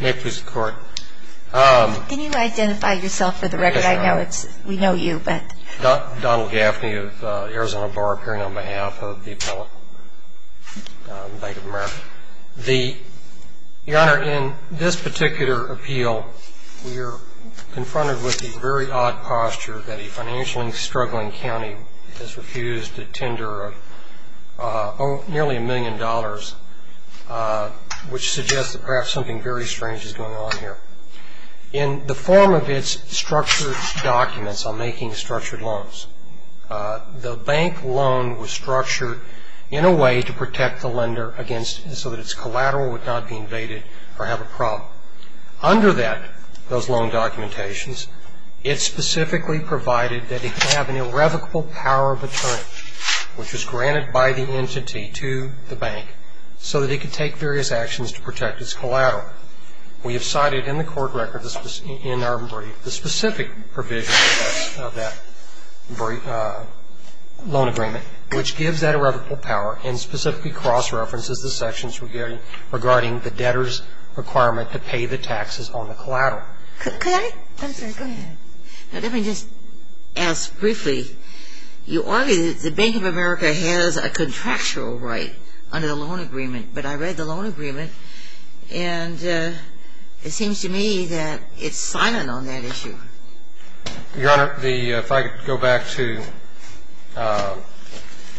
May it please the Court. Can you identify yourself for the record? I know we know you. Donald Gaffney of the Arizona Bar, appearing on behalf of the Appellate Bank of America. Your Honor, in this particular appeal, we are confronted with the very odd posture that a financially struggling county has refused a tender of nearly a million dollars, which suggests that perhaps something very strange is going on here. In the form of its structured documents on making structured loans, the bank loan was structured in a way to protect the lender against so that its collateral would not be invaded or have a problem. Under that, those loan documentations, it specifically provided that it have an irrevocable power of attorney, which was granted by the entity to the bank, so that it could take various actions to protect its collateral. We have cited in the court record in our brief the specific provision of that loan agreement, which gives that irrevocable power and specifically cross-references the sections regarding the debtor's requirement to pay the taxes on the collateral. Could I? Go ahead. Let me just ask briefly. You argue that the Bank of America has a contractual right under the loan agreement, but I read the loan agreement, and it seems to me that it's silent on that issue. Your Honor, if I could go back to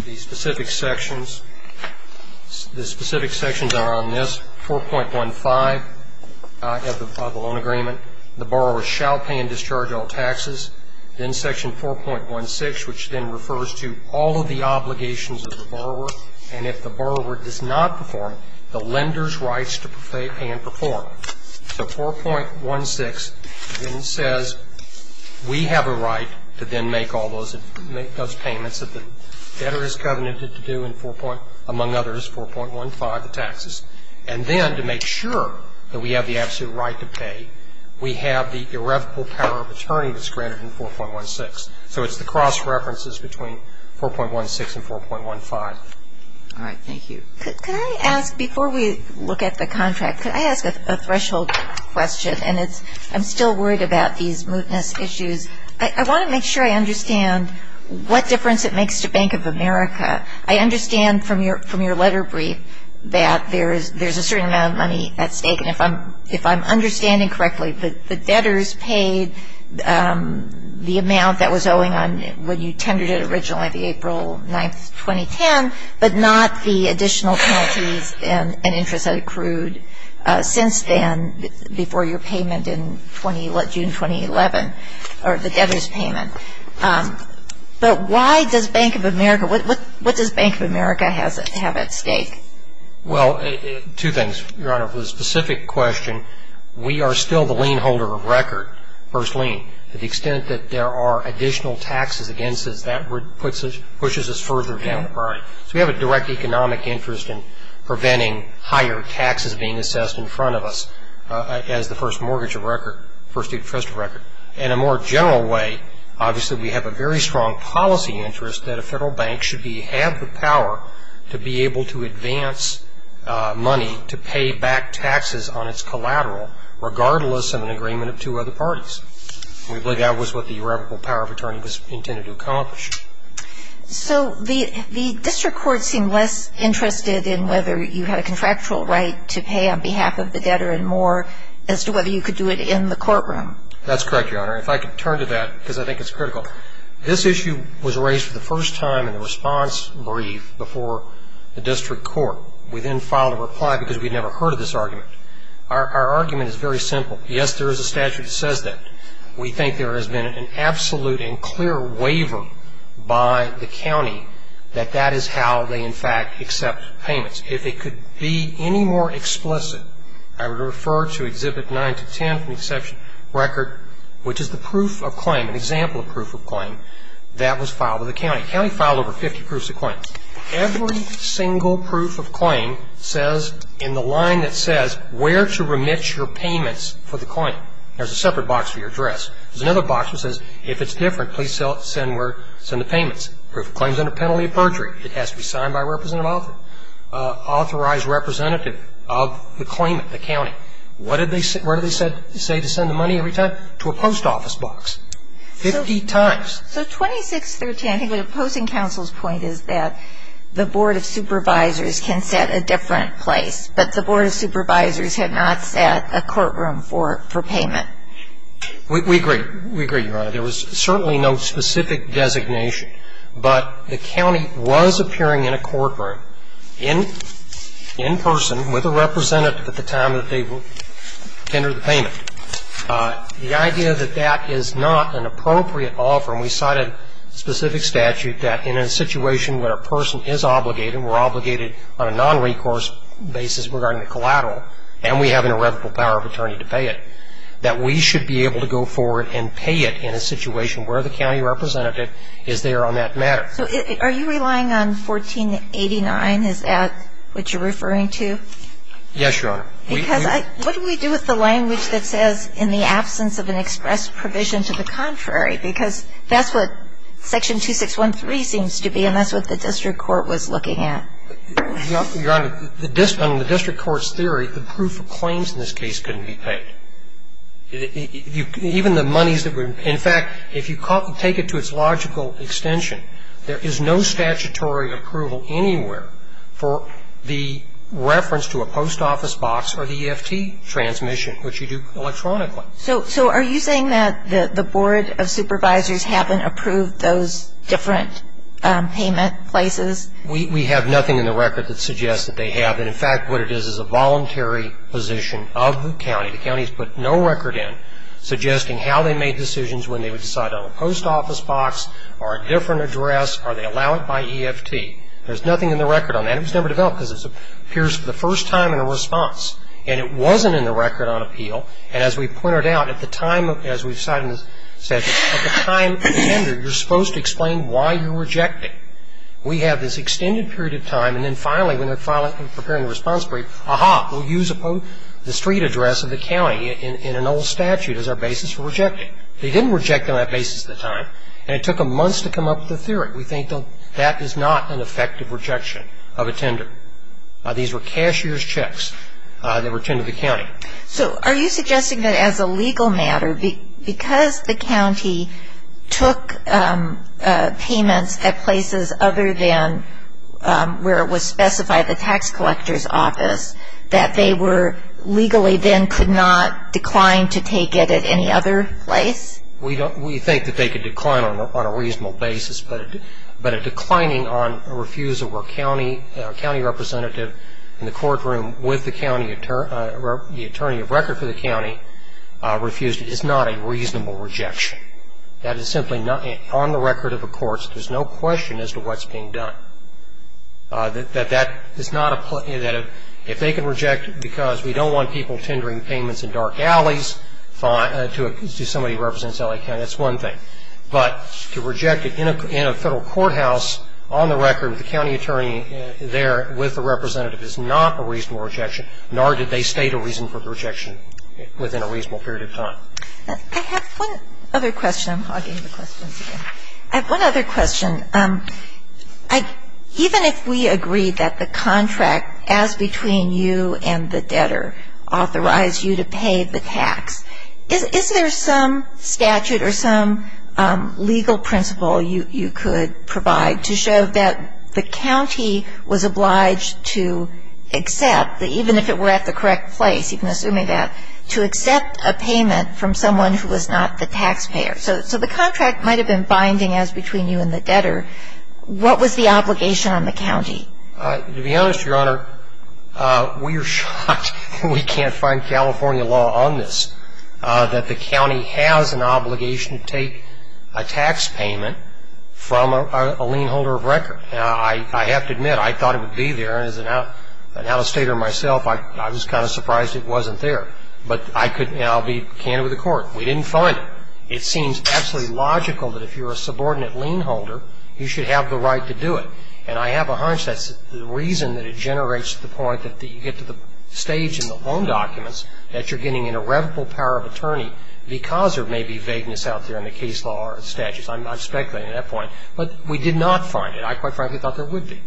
the specific sections. The specific sections are on this, 4.15 of the loan agreement. The borrower shall pay and discharge all taxes. Then Section 4.16, which then refers to all of the obligations of the borrower, and if the borrower does not perform, the lender's rights to pay and perform. So 4.16 then says we have a right to then make all those payments that the debtor has covenanted to do, and then to make sure that we have the absolute right to pay, we have the irrevocable power of attorney that's granted in 4.16. So it's the cross-references between 4.16 and 4.15. All right. Thank you. Could I ask, before we look at the contract, could I ask a threshold question? And I'm still worried about these mootness issues. I want to make sure I understand what difference it makes to Bank of America. I understand from your letter brief that there's a certain amount of money at stake, and if I'm understanding correctly, the debtors paid the amount that was owing on when you tendered it originally, the April 9th, 2010, but not the additional penalties and interest that accrued since then before your payment in June 2011, or the debtor's payment. But why does Bank of America, what does Bank of America have at stake? Well, two things, Your Honor. For the specific question, we are still the lien holder of record, first lien. To the extent that there are additional taxes against us, that pushes us further down the line. So we have a direct economic interest in preventing higher taxes being assessed in front of us In a more general way, obviously we have a very strong policy interest that a federal bank should have the power to be able to advance money to pay back taxes on its collateral, regardless of an agreement of two other parties. We believe that was what the irrevocable power of attorney was intended to accomplish. So the district court seemed less interested in whether you had a contractual right to pay on behalf of the debtor and more as to whether you could do it in the courtroom. That's correct, Your Honor. If I could turn to that, because I think it's critical. This issue was raised for the first time in the response brief before the district court. We then filed a reply because we'd never heard of this argument. Our argument is very simple. Yes, there is a statute that says that. We think there has been an absolute and clear waiver by the county that that is how they in fact accept payments. If it could be any more explicit, I would refer to Exhibit 9-10 from the exception record, which is the proof of claim, an example of proof of claim that was filed with the county. The county filed over 50 proofs of claim. Every single proof of claim says in the line that says where to remit your payments for the claim. There's a separate box for your address. There's another box that says if it's different, please send the payments. Proof of claim is under penalty of perjury. It has to be signed by a representative author, authorized representative of the claimant, the county. What did they say to send the money every time? To a post office box 50 times. So 26-10, I think the opposing counsel's point is that the Board of Supervisors can set a different place, but the Board of Supervisors had not set a courtroom for payment. We agree. We agree, Your Honor. There was certainly no specific designation, but the county was appearing in a courtroom in person with a representative at the time that they tendered the payment. The idea that that is not an appropriate offer, and we cited specific statute that in a situation where a person is obligated, we're obligated on a nonrecourse basis regarding the collateral, and we have an irrevocable power of attorney to pay it, that we should be able to go forward and pay it in a situation where the county representative is there on that matter. So are you relying on 1489? Is that what you're referring to? Yes, Your Honor. Because what do we do with the language that says in the absence of an express provision to the contrary? Because that's what Section 2613 seems to be, and that's what the district court was looking at. Your Honor, on the district court's theory, the proof of claims in this case couldn't be paid. Even the monies that were, in fact, if you take it to its logical extension, there is no statutory approval anywhere for the reference to a post office box or the EFT transmission, which you do electronically. So are you saying that the Board of Supervisors haven't approved those different payment places? We have nothing in the record that suggests that they have, and in fact what it is is a voluntary position of the county. The county has put no record in suggesting how they made decisions when they would decide on a post office box or a different address, or they allow it by EFT. There's nothing in the record on that. It was never developed because it appears for the first time in a response, and it wasn't in the record on appeal. And as we pointed out, at the time, as we've cited in the statute, at the time entered, you're supposed to explain why you're rejecting. We have this extended period of time, and then finally when they're preparing the response brief, aha, we'll use the street address of the county in an old statute as our basis for rejecting. They didn't reject on that basis at the time, and it took them months to come up with a theory. We think that that is not an effective rejection of a tender. These were cashier's checks that were tended to the county. So are you suggesting that as a legal matter, because the county took payments at places other than where it was specified, the tax collector's office, that they were legally then could not decline to take it at any other place? We think that they could decline on a reasonable basis, but a declining on a refusal where a county representative in the courtroom with the attorney of record for the county refused it is not a reasonable rejection. That is simply not on the record of the courts. There's no question as to what's being done. That that is not a, if they can reject it because we don't want people tendering payments in dark alleys to somebody who represents L.A. County, that's one thing. But to reject it in a federal courthouse on the record with the county attorney there with the representative is not a reasonable rejection, nor did they state a reason for the rejection within a reasonable period of time. I have one other question. I'm hogging the questions again. I have one other question. Even if we agree that the contract as between you and the debtor authorized you to pay the tax, is there some statute or some legal principle you could provide to show that the county was obliged to accept, even if it were at the correct place, even assuming that, to accept a payment from someone who was not the taxpayer? So the contract might have been binding as between you and the debtor. What was the obligation on the county? To be honest, Your Honor, we are shocked we can't find California law on this, that the county has an obligation to take a tax payment from a lien holder of record. I have to admit, I thought it would be there, and as an outstater myself, I was kind of surprised it wasn't there. But I'll be candid with the Court. We didn't find it. It seems absolutely logical that if you're a subordinate lien holder, you should have the right to do it. And I have a hunch that's the reason that it generates the point that you get to the stage in the loan documents that you're getting an irrevocable power of attorney because there may be vagueness out there in the case law or the statutes. I'm speculating on that point. But we did not find it. I quite frankly thought there would be.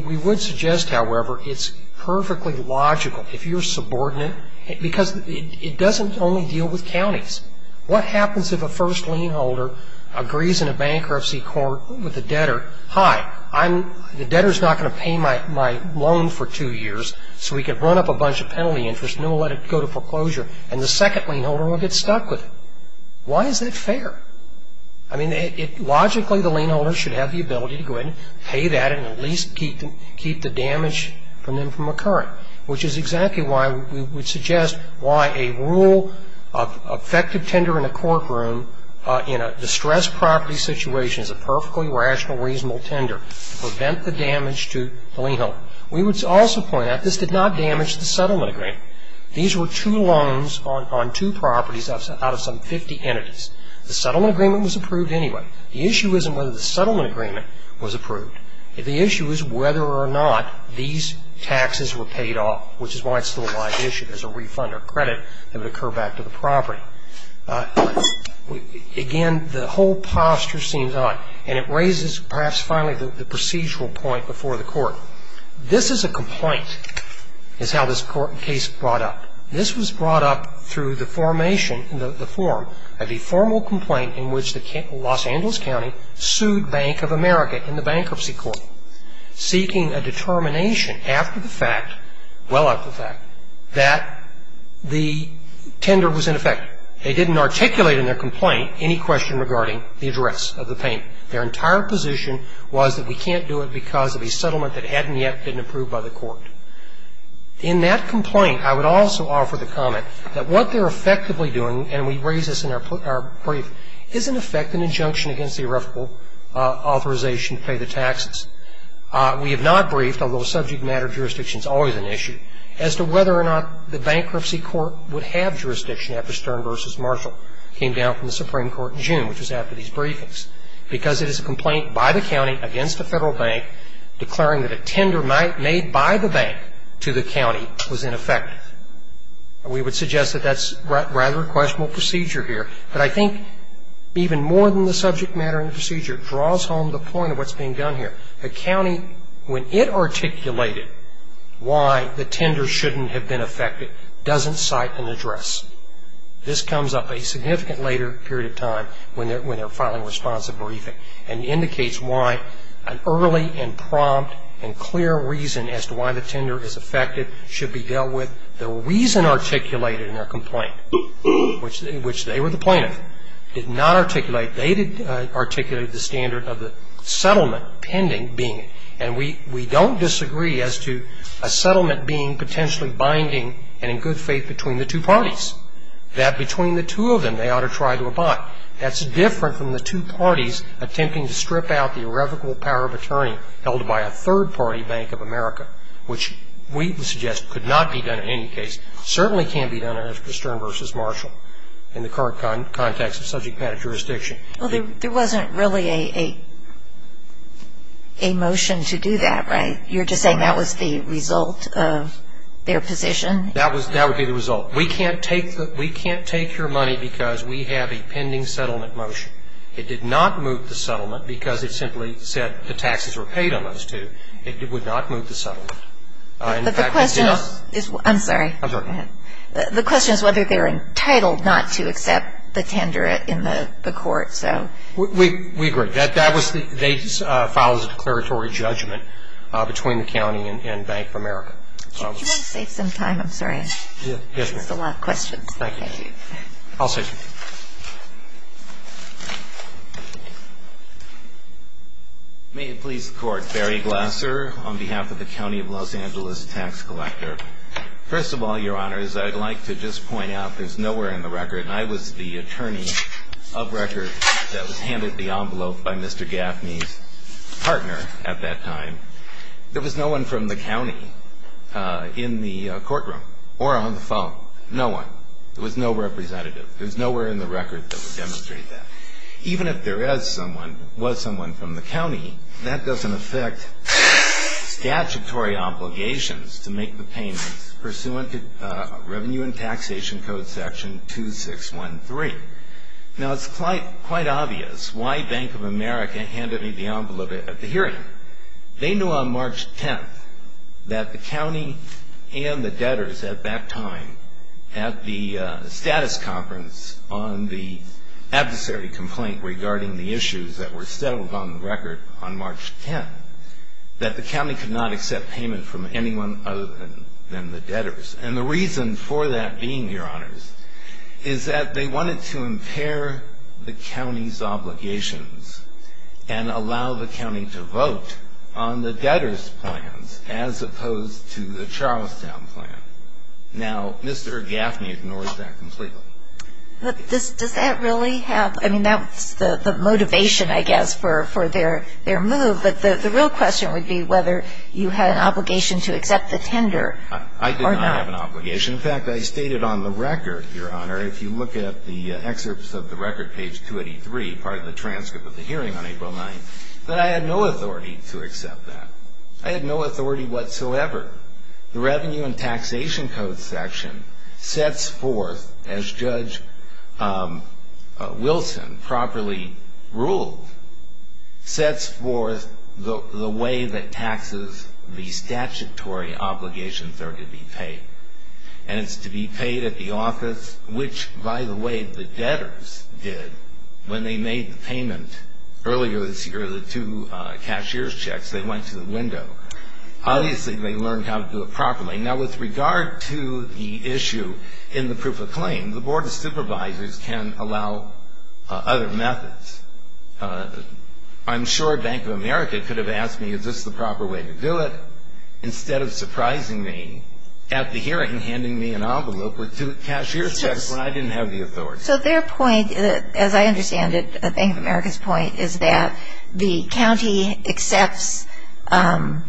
We would suggest, however, it's perfectly logical, if you're a subordinate, because it doesn't only deal with counties. What happens if a first lien holder agrees in a bankruptcy court with the debtor, hi, the debtor is not going to pay my loan for two years, so we can run up a bunch of penalty interest and then we'll let it go to foreclosure, and the second lien holder will get stuck with it. Why is that fair? I mean, logically the lien holder should have the ability to go ahead and pay that and at least keep the damage from them from occurring, which is exactly why we would suggest why a rule of effective tender in a courtroom in a distressed property situation is a perfectly rational, reasonable tender. Prevent the damage to the lien holder. We would also point out this did not damage the settlement agreement. These were two loans on two properties out of some 50 entities. The settlement agreement was approved anyway. The issue isn't whether the settlement agreement was approved. The issue is whether or not these taxes were paid off, which is why it's still a live issue as a refund or credit that would occur back to the property. Again, the whole posture seems odd, and it raises perhaps finally the procedural point before the court. This is a complaint is how this court case brought up. This was brought up through the formation, the form of the formal complaint in which the Los Angeles County sued Bank of America in the bankruptcy court seeking a determination after the fact, well after the fact, that the tender was ineffective. They didn't articulate in their complaint any question regarding the address of the payment. Their entire position was that we can't do it because of a settlement that hadn't yet been approved by the court. In that complaint, I would also offer the comment that what they're effectively doing, and we raise this in our brief, is in effect an injunction against the irrefutable authorization to pay the taxes. We have not briefed, although subject matter jurisdiction is always an issue, as to whether or not the bankruptcy court would have jurisdiction after Stern v. Marshall came down from the Supreme Court in June, which was after these briefings, because it is a complaint by the county against the Federal Bank declaring that a tender made by the bank to the county was ineffective. We would suggest that that's rather a questionable procedure here, but I think even more than the subject matter and procedure draws home the point of what's being done here. The county, when it articulated why the tender shouldn't have been effective, doesn't cite an address. This comes up a significant later period of time when they're filing a responsive briefing and indicates why an early and prompt and clear reason as to why the tender is effective should be dealt with. The reason articulated in their complaint, which they were the plaintiff, did not articulate, they did articulate the standard of the settlement pending being, and we don't disagree as to a settlement being potentially binding and in good faith between the two parties, that between the two of them they ought to try to abide. That's different from the two parties attempting to strip out the irrevocable power of attorney held by a third-party bank of America, which we would suggest could not be done in any case, certainly can't be done under Stern v. Marshall in the current context of subject matter jurisdiction. Well, there wasn't really a motion to do that, right? You're just saying that was the result of their position? That would be the result. We can't take your money because we have a pending settlement motion. It did not move the settlement because it simply said the taxes were paid on those two. It would not move the settlement. In fact, it does. I'm sorry. I'm sorry. Go ahead. The question is whether they're entitled not to accept the tender in the court, so. We agree. They filed as a declaratory judgment between the county and Bank of America. Do you want to save some time? I'm sorry. Yes, ma'am. There's a lot of questions. Thank you. I'll save some time. May it please the Court. Barry Glasser on behalf of the County of Los Angeles Tax Collector. First of all, Your Honors, I'd like to just point out there's nowhere in the record, and I was the attorney of record that was handed the envelope by Mr. Gaffney's partner at that time. There was no one from the county in the courtroom or on the phone. No one. There was no representative. There's nowhere in the record that would demonstrate that. Even if there is someone, was someone from the county, that doesn't affect statutory obligations to make the payments pursuant to Revenue and Taxation Code Section 2613. Now, it's quite obvious why Bank of America handed me the envelope at the hearing. They knew on March 10th that the county and the debtors at that time at the status conference on the adversary complaint regarding the issues that were settled on the record on March 10th, that the county could not accept payment from anyone other than the debtors. And the reason for that being, Your Honors, is that they wanted to impair the county's obligations and allow the county to vote on the debtors' plans as opposed to the Charlestown plan. Now, Mr. Gaffney ignores that completely. But does that really have, I mean, that's the motivation, I guess, for their move. But the real question would be whether you had an obligation to accept the tender or not. I did not have an obligation. In fact, I stated on the record, Your Honor, if you look at the excerpts of the record, page 283, part of the transcript of the hearing on April 9th, that I had no authority to accept that. I had no authority whatsoever. However, the Revenue and Taxation Code section sets forth, as Judge Wilson properly ruled, sets forth the way that taxes, the statutory obligations are to be paid. And it's to be paid at the office, which, by the way, the debtors did when they made the payment. Earlier this year, the two cashier's checks, they went to the window. Obviously, they learned how to do it properly. Now, with regard to the issue in the proof of claim, the Board of Supervisors can allow other methods. I'm sure Bank of America could have asked me, is this the proper way to do it, instead of surprising me at the hearing, handing me an envelope with two cashier's checks when I didn't have the authority. So their point, as I understand it, Bank of America's point is that the county accepts payment,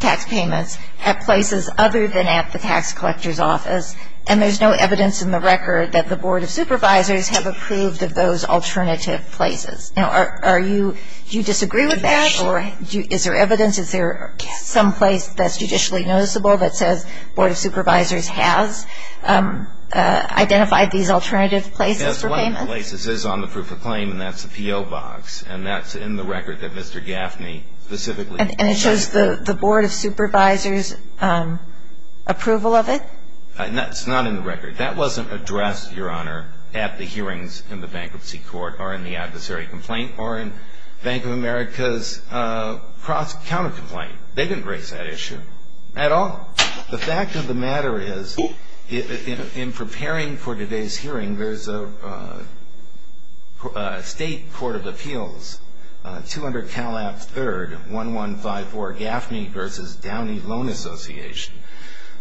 tax payments at places other than at the tax collector's office, and there's no evidence in the record that the Board of Supervisors have approved of those alternative places. Now, are you, do you disagree with that, or is there evidence, is there some place that's judicially noticeable that says Board of Supervisors has identified these alternative places for payment? Yes, one of the places is on the proof of claim, and that's the P.O. Box, and that's in the record that Mr. Gaffney specifically issued. And it shows the Board of Supervisors' approval of it? That's not in the record. That wasn't addressed, Your Honor, at the hearings in the Bankruptcy Court or in the adversary complaint or in Bank of America's counter-complaint. They didn't raise that issue at all. The fact of the matter is, in preparing for today's hearing, there's a state court of appeals, two under Cal App III, 1154 Gaffney v. Downey Loan Association.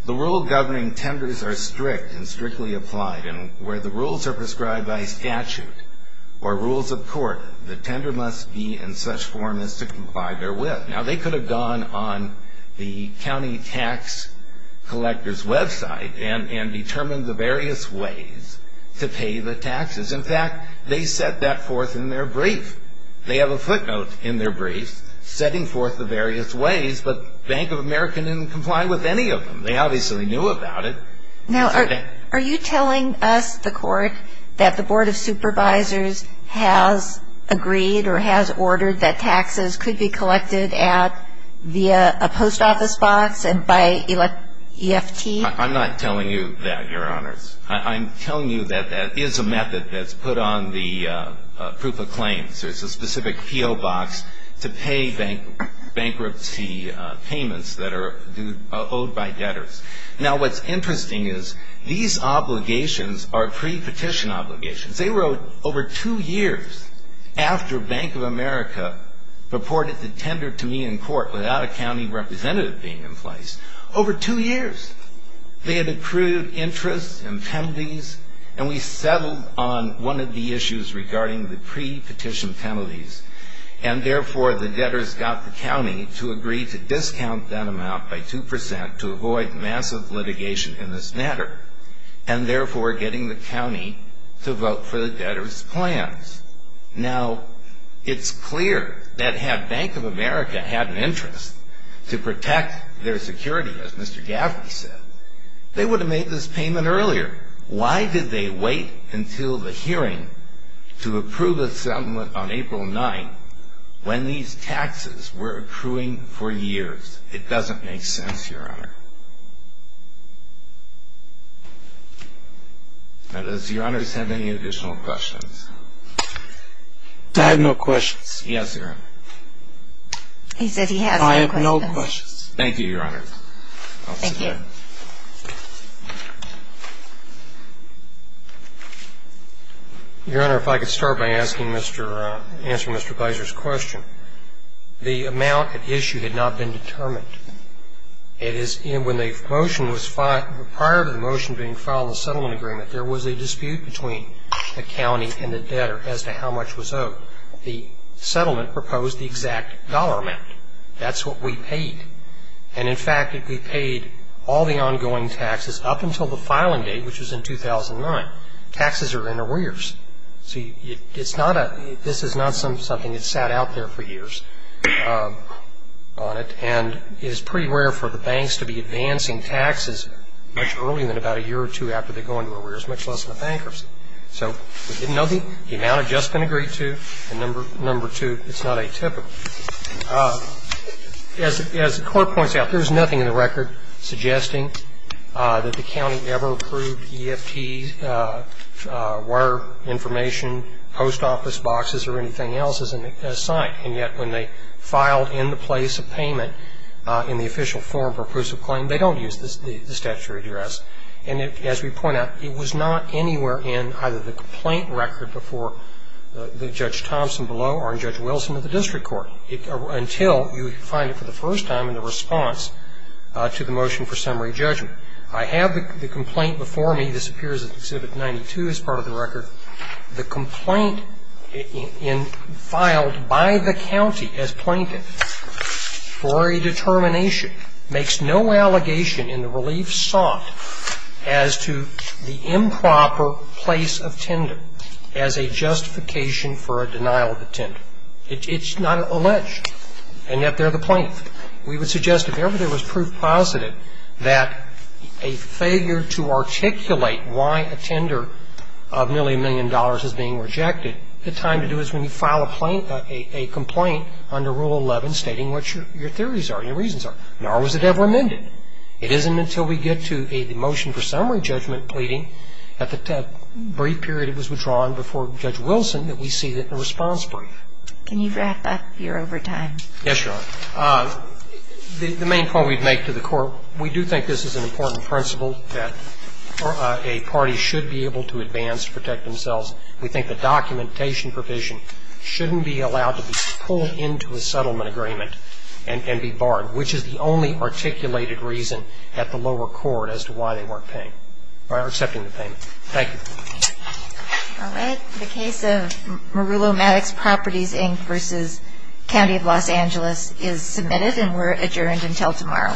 The rule governing tenders are strict and strictly applied, and where the rules are prescribed by statute or rules of court, the tender must be in such form as to comply therewith. Now, they could have gone on the county tax collector's website and determined the various ways to pay the taxes. In fact, they set that forth in their brief. They have a footnote in their brief setting forth the various ways, but Bank of America didn't comply with any of them. They obviously knew about it. Now, are you telling us, the court, that the Board of Supervisors has agreed or has ordered that taxes could be collected at via a post office box and by EFT? I'm not telling you that, Your Honors. I'm telling you that that is a method that's put on the proof of claims. There's a specific P.O. box to pay bankruptcy payments that are owed by debtors. Now, what's interesting is these obligations are pre-petition obligations. They were over two years after Bank of America reported the tender to me in court without a county representative being in place. Over two years. They had accrued interest and penalties, and we settled on one of the issues regarding the pre-petition penalties, and therefore the debtors got the county to agree to discount that amount by 2% to avoid massive litigation in this matter, and therefore getting the county to vote for the debtors' plans. Now, it's clear that had Bank of America had an interest to protect their security, as Mr. Gaffney said, they would have made this payment earlier. Why did they wait until the hearing to approve a settlement on April 9th when these taxes were accruing for years? It doesn't make sense, Your Honor. Now, does Your Honors have any additional questions? I have no questions. Yes, Your Honor. He said he has no questions. I have no questions. Thank you, Your Honor. Your Honor, if I could start by asking Mr. Bizer's question. The amount at issue had not been determined. It is when the motion was filed, prior to the motion being filed in the settlement agreement, there was a dispute between the county and the debtor as to how much was owed. The settlement proposed the exact dollar amount. That's what we paid. And, in fact, we paid all the ongoing taxes up until the filing date, which was in 2009. Taxes are in arrears. See, this is not something that sat out there for years on it, and it is pretty rare for the banks to be advancing taxes much earlier than about a year or two after they go into arrears, much less in a bankruptcy. So we didn't know the amount had just been agreed to, and number two, it's not atypical. As the court points out, there is nothing in the record suggesting that the county ever approved EFT, wire information, post office boxes, or anything else as a sign. And yet, when they filed in the place of payment in the official form for proofs of claim, they don't use the statutory address. And as we point out, it was not anywhere in either the complaint record before Judge Thompson below or in Judge Wilson of the district court until you find it for the first time in the response to the motion for summary judgment. I have the complaint before me. This appears in Exhibit 92 as part of the record. The complaint filed by the county as plaintiff for a determination makes no allegation in the relief sought as to the improper place of tender as a justification for a denial of the tender. It's not alleged. And yet, they're the plaintiff. We would suggest if ever there was proof positive that a failure to articulate why a tender of nearly a million dollars is being rejected, the time to do it is when you file a complaint under Rule 11 stating what your theories are, your reasons are, nor was it ever amended. It isn't until we get to the motion for summary judgment pleading at the brief period it was withdrawn before Judge Wilson that we see it in a response brief. Can you wrap up? You're over time. Yes, Your Honor. The main point we'd make to the Court, we do think this is an important principle that a party should be able to advance to protect themselves. We think the documentation provision shouldn't be allowed to be pulled into a settlement and be barred, which is the only articulated reason at the lower court as to why they weren't paying or accepting the payment. Thank you. All right. The case of Merulo Maddox Properties, Inc. v. County of Los Angeles is submitted and we're adjourned until tomorrow. All rise.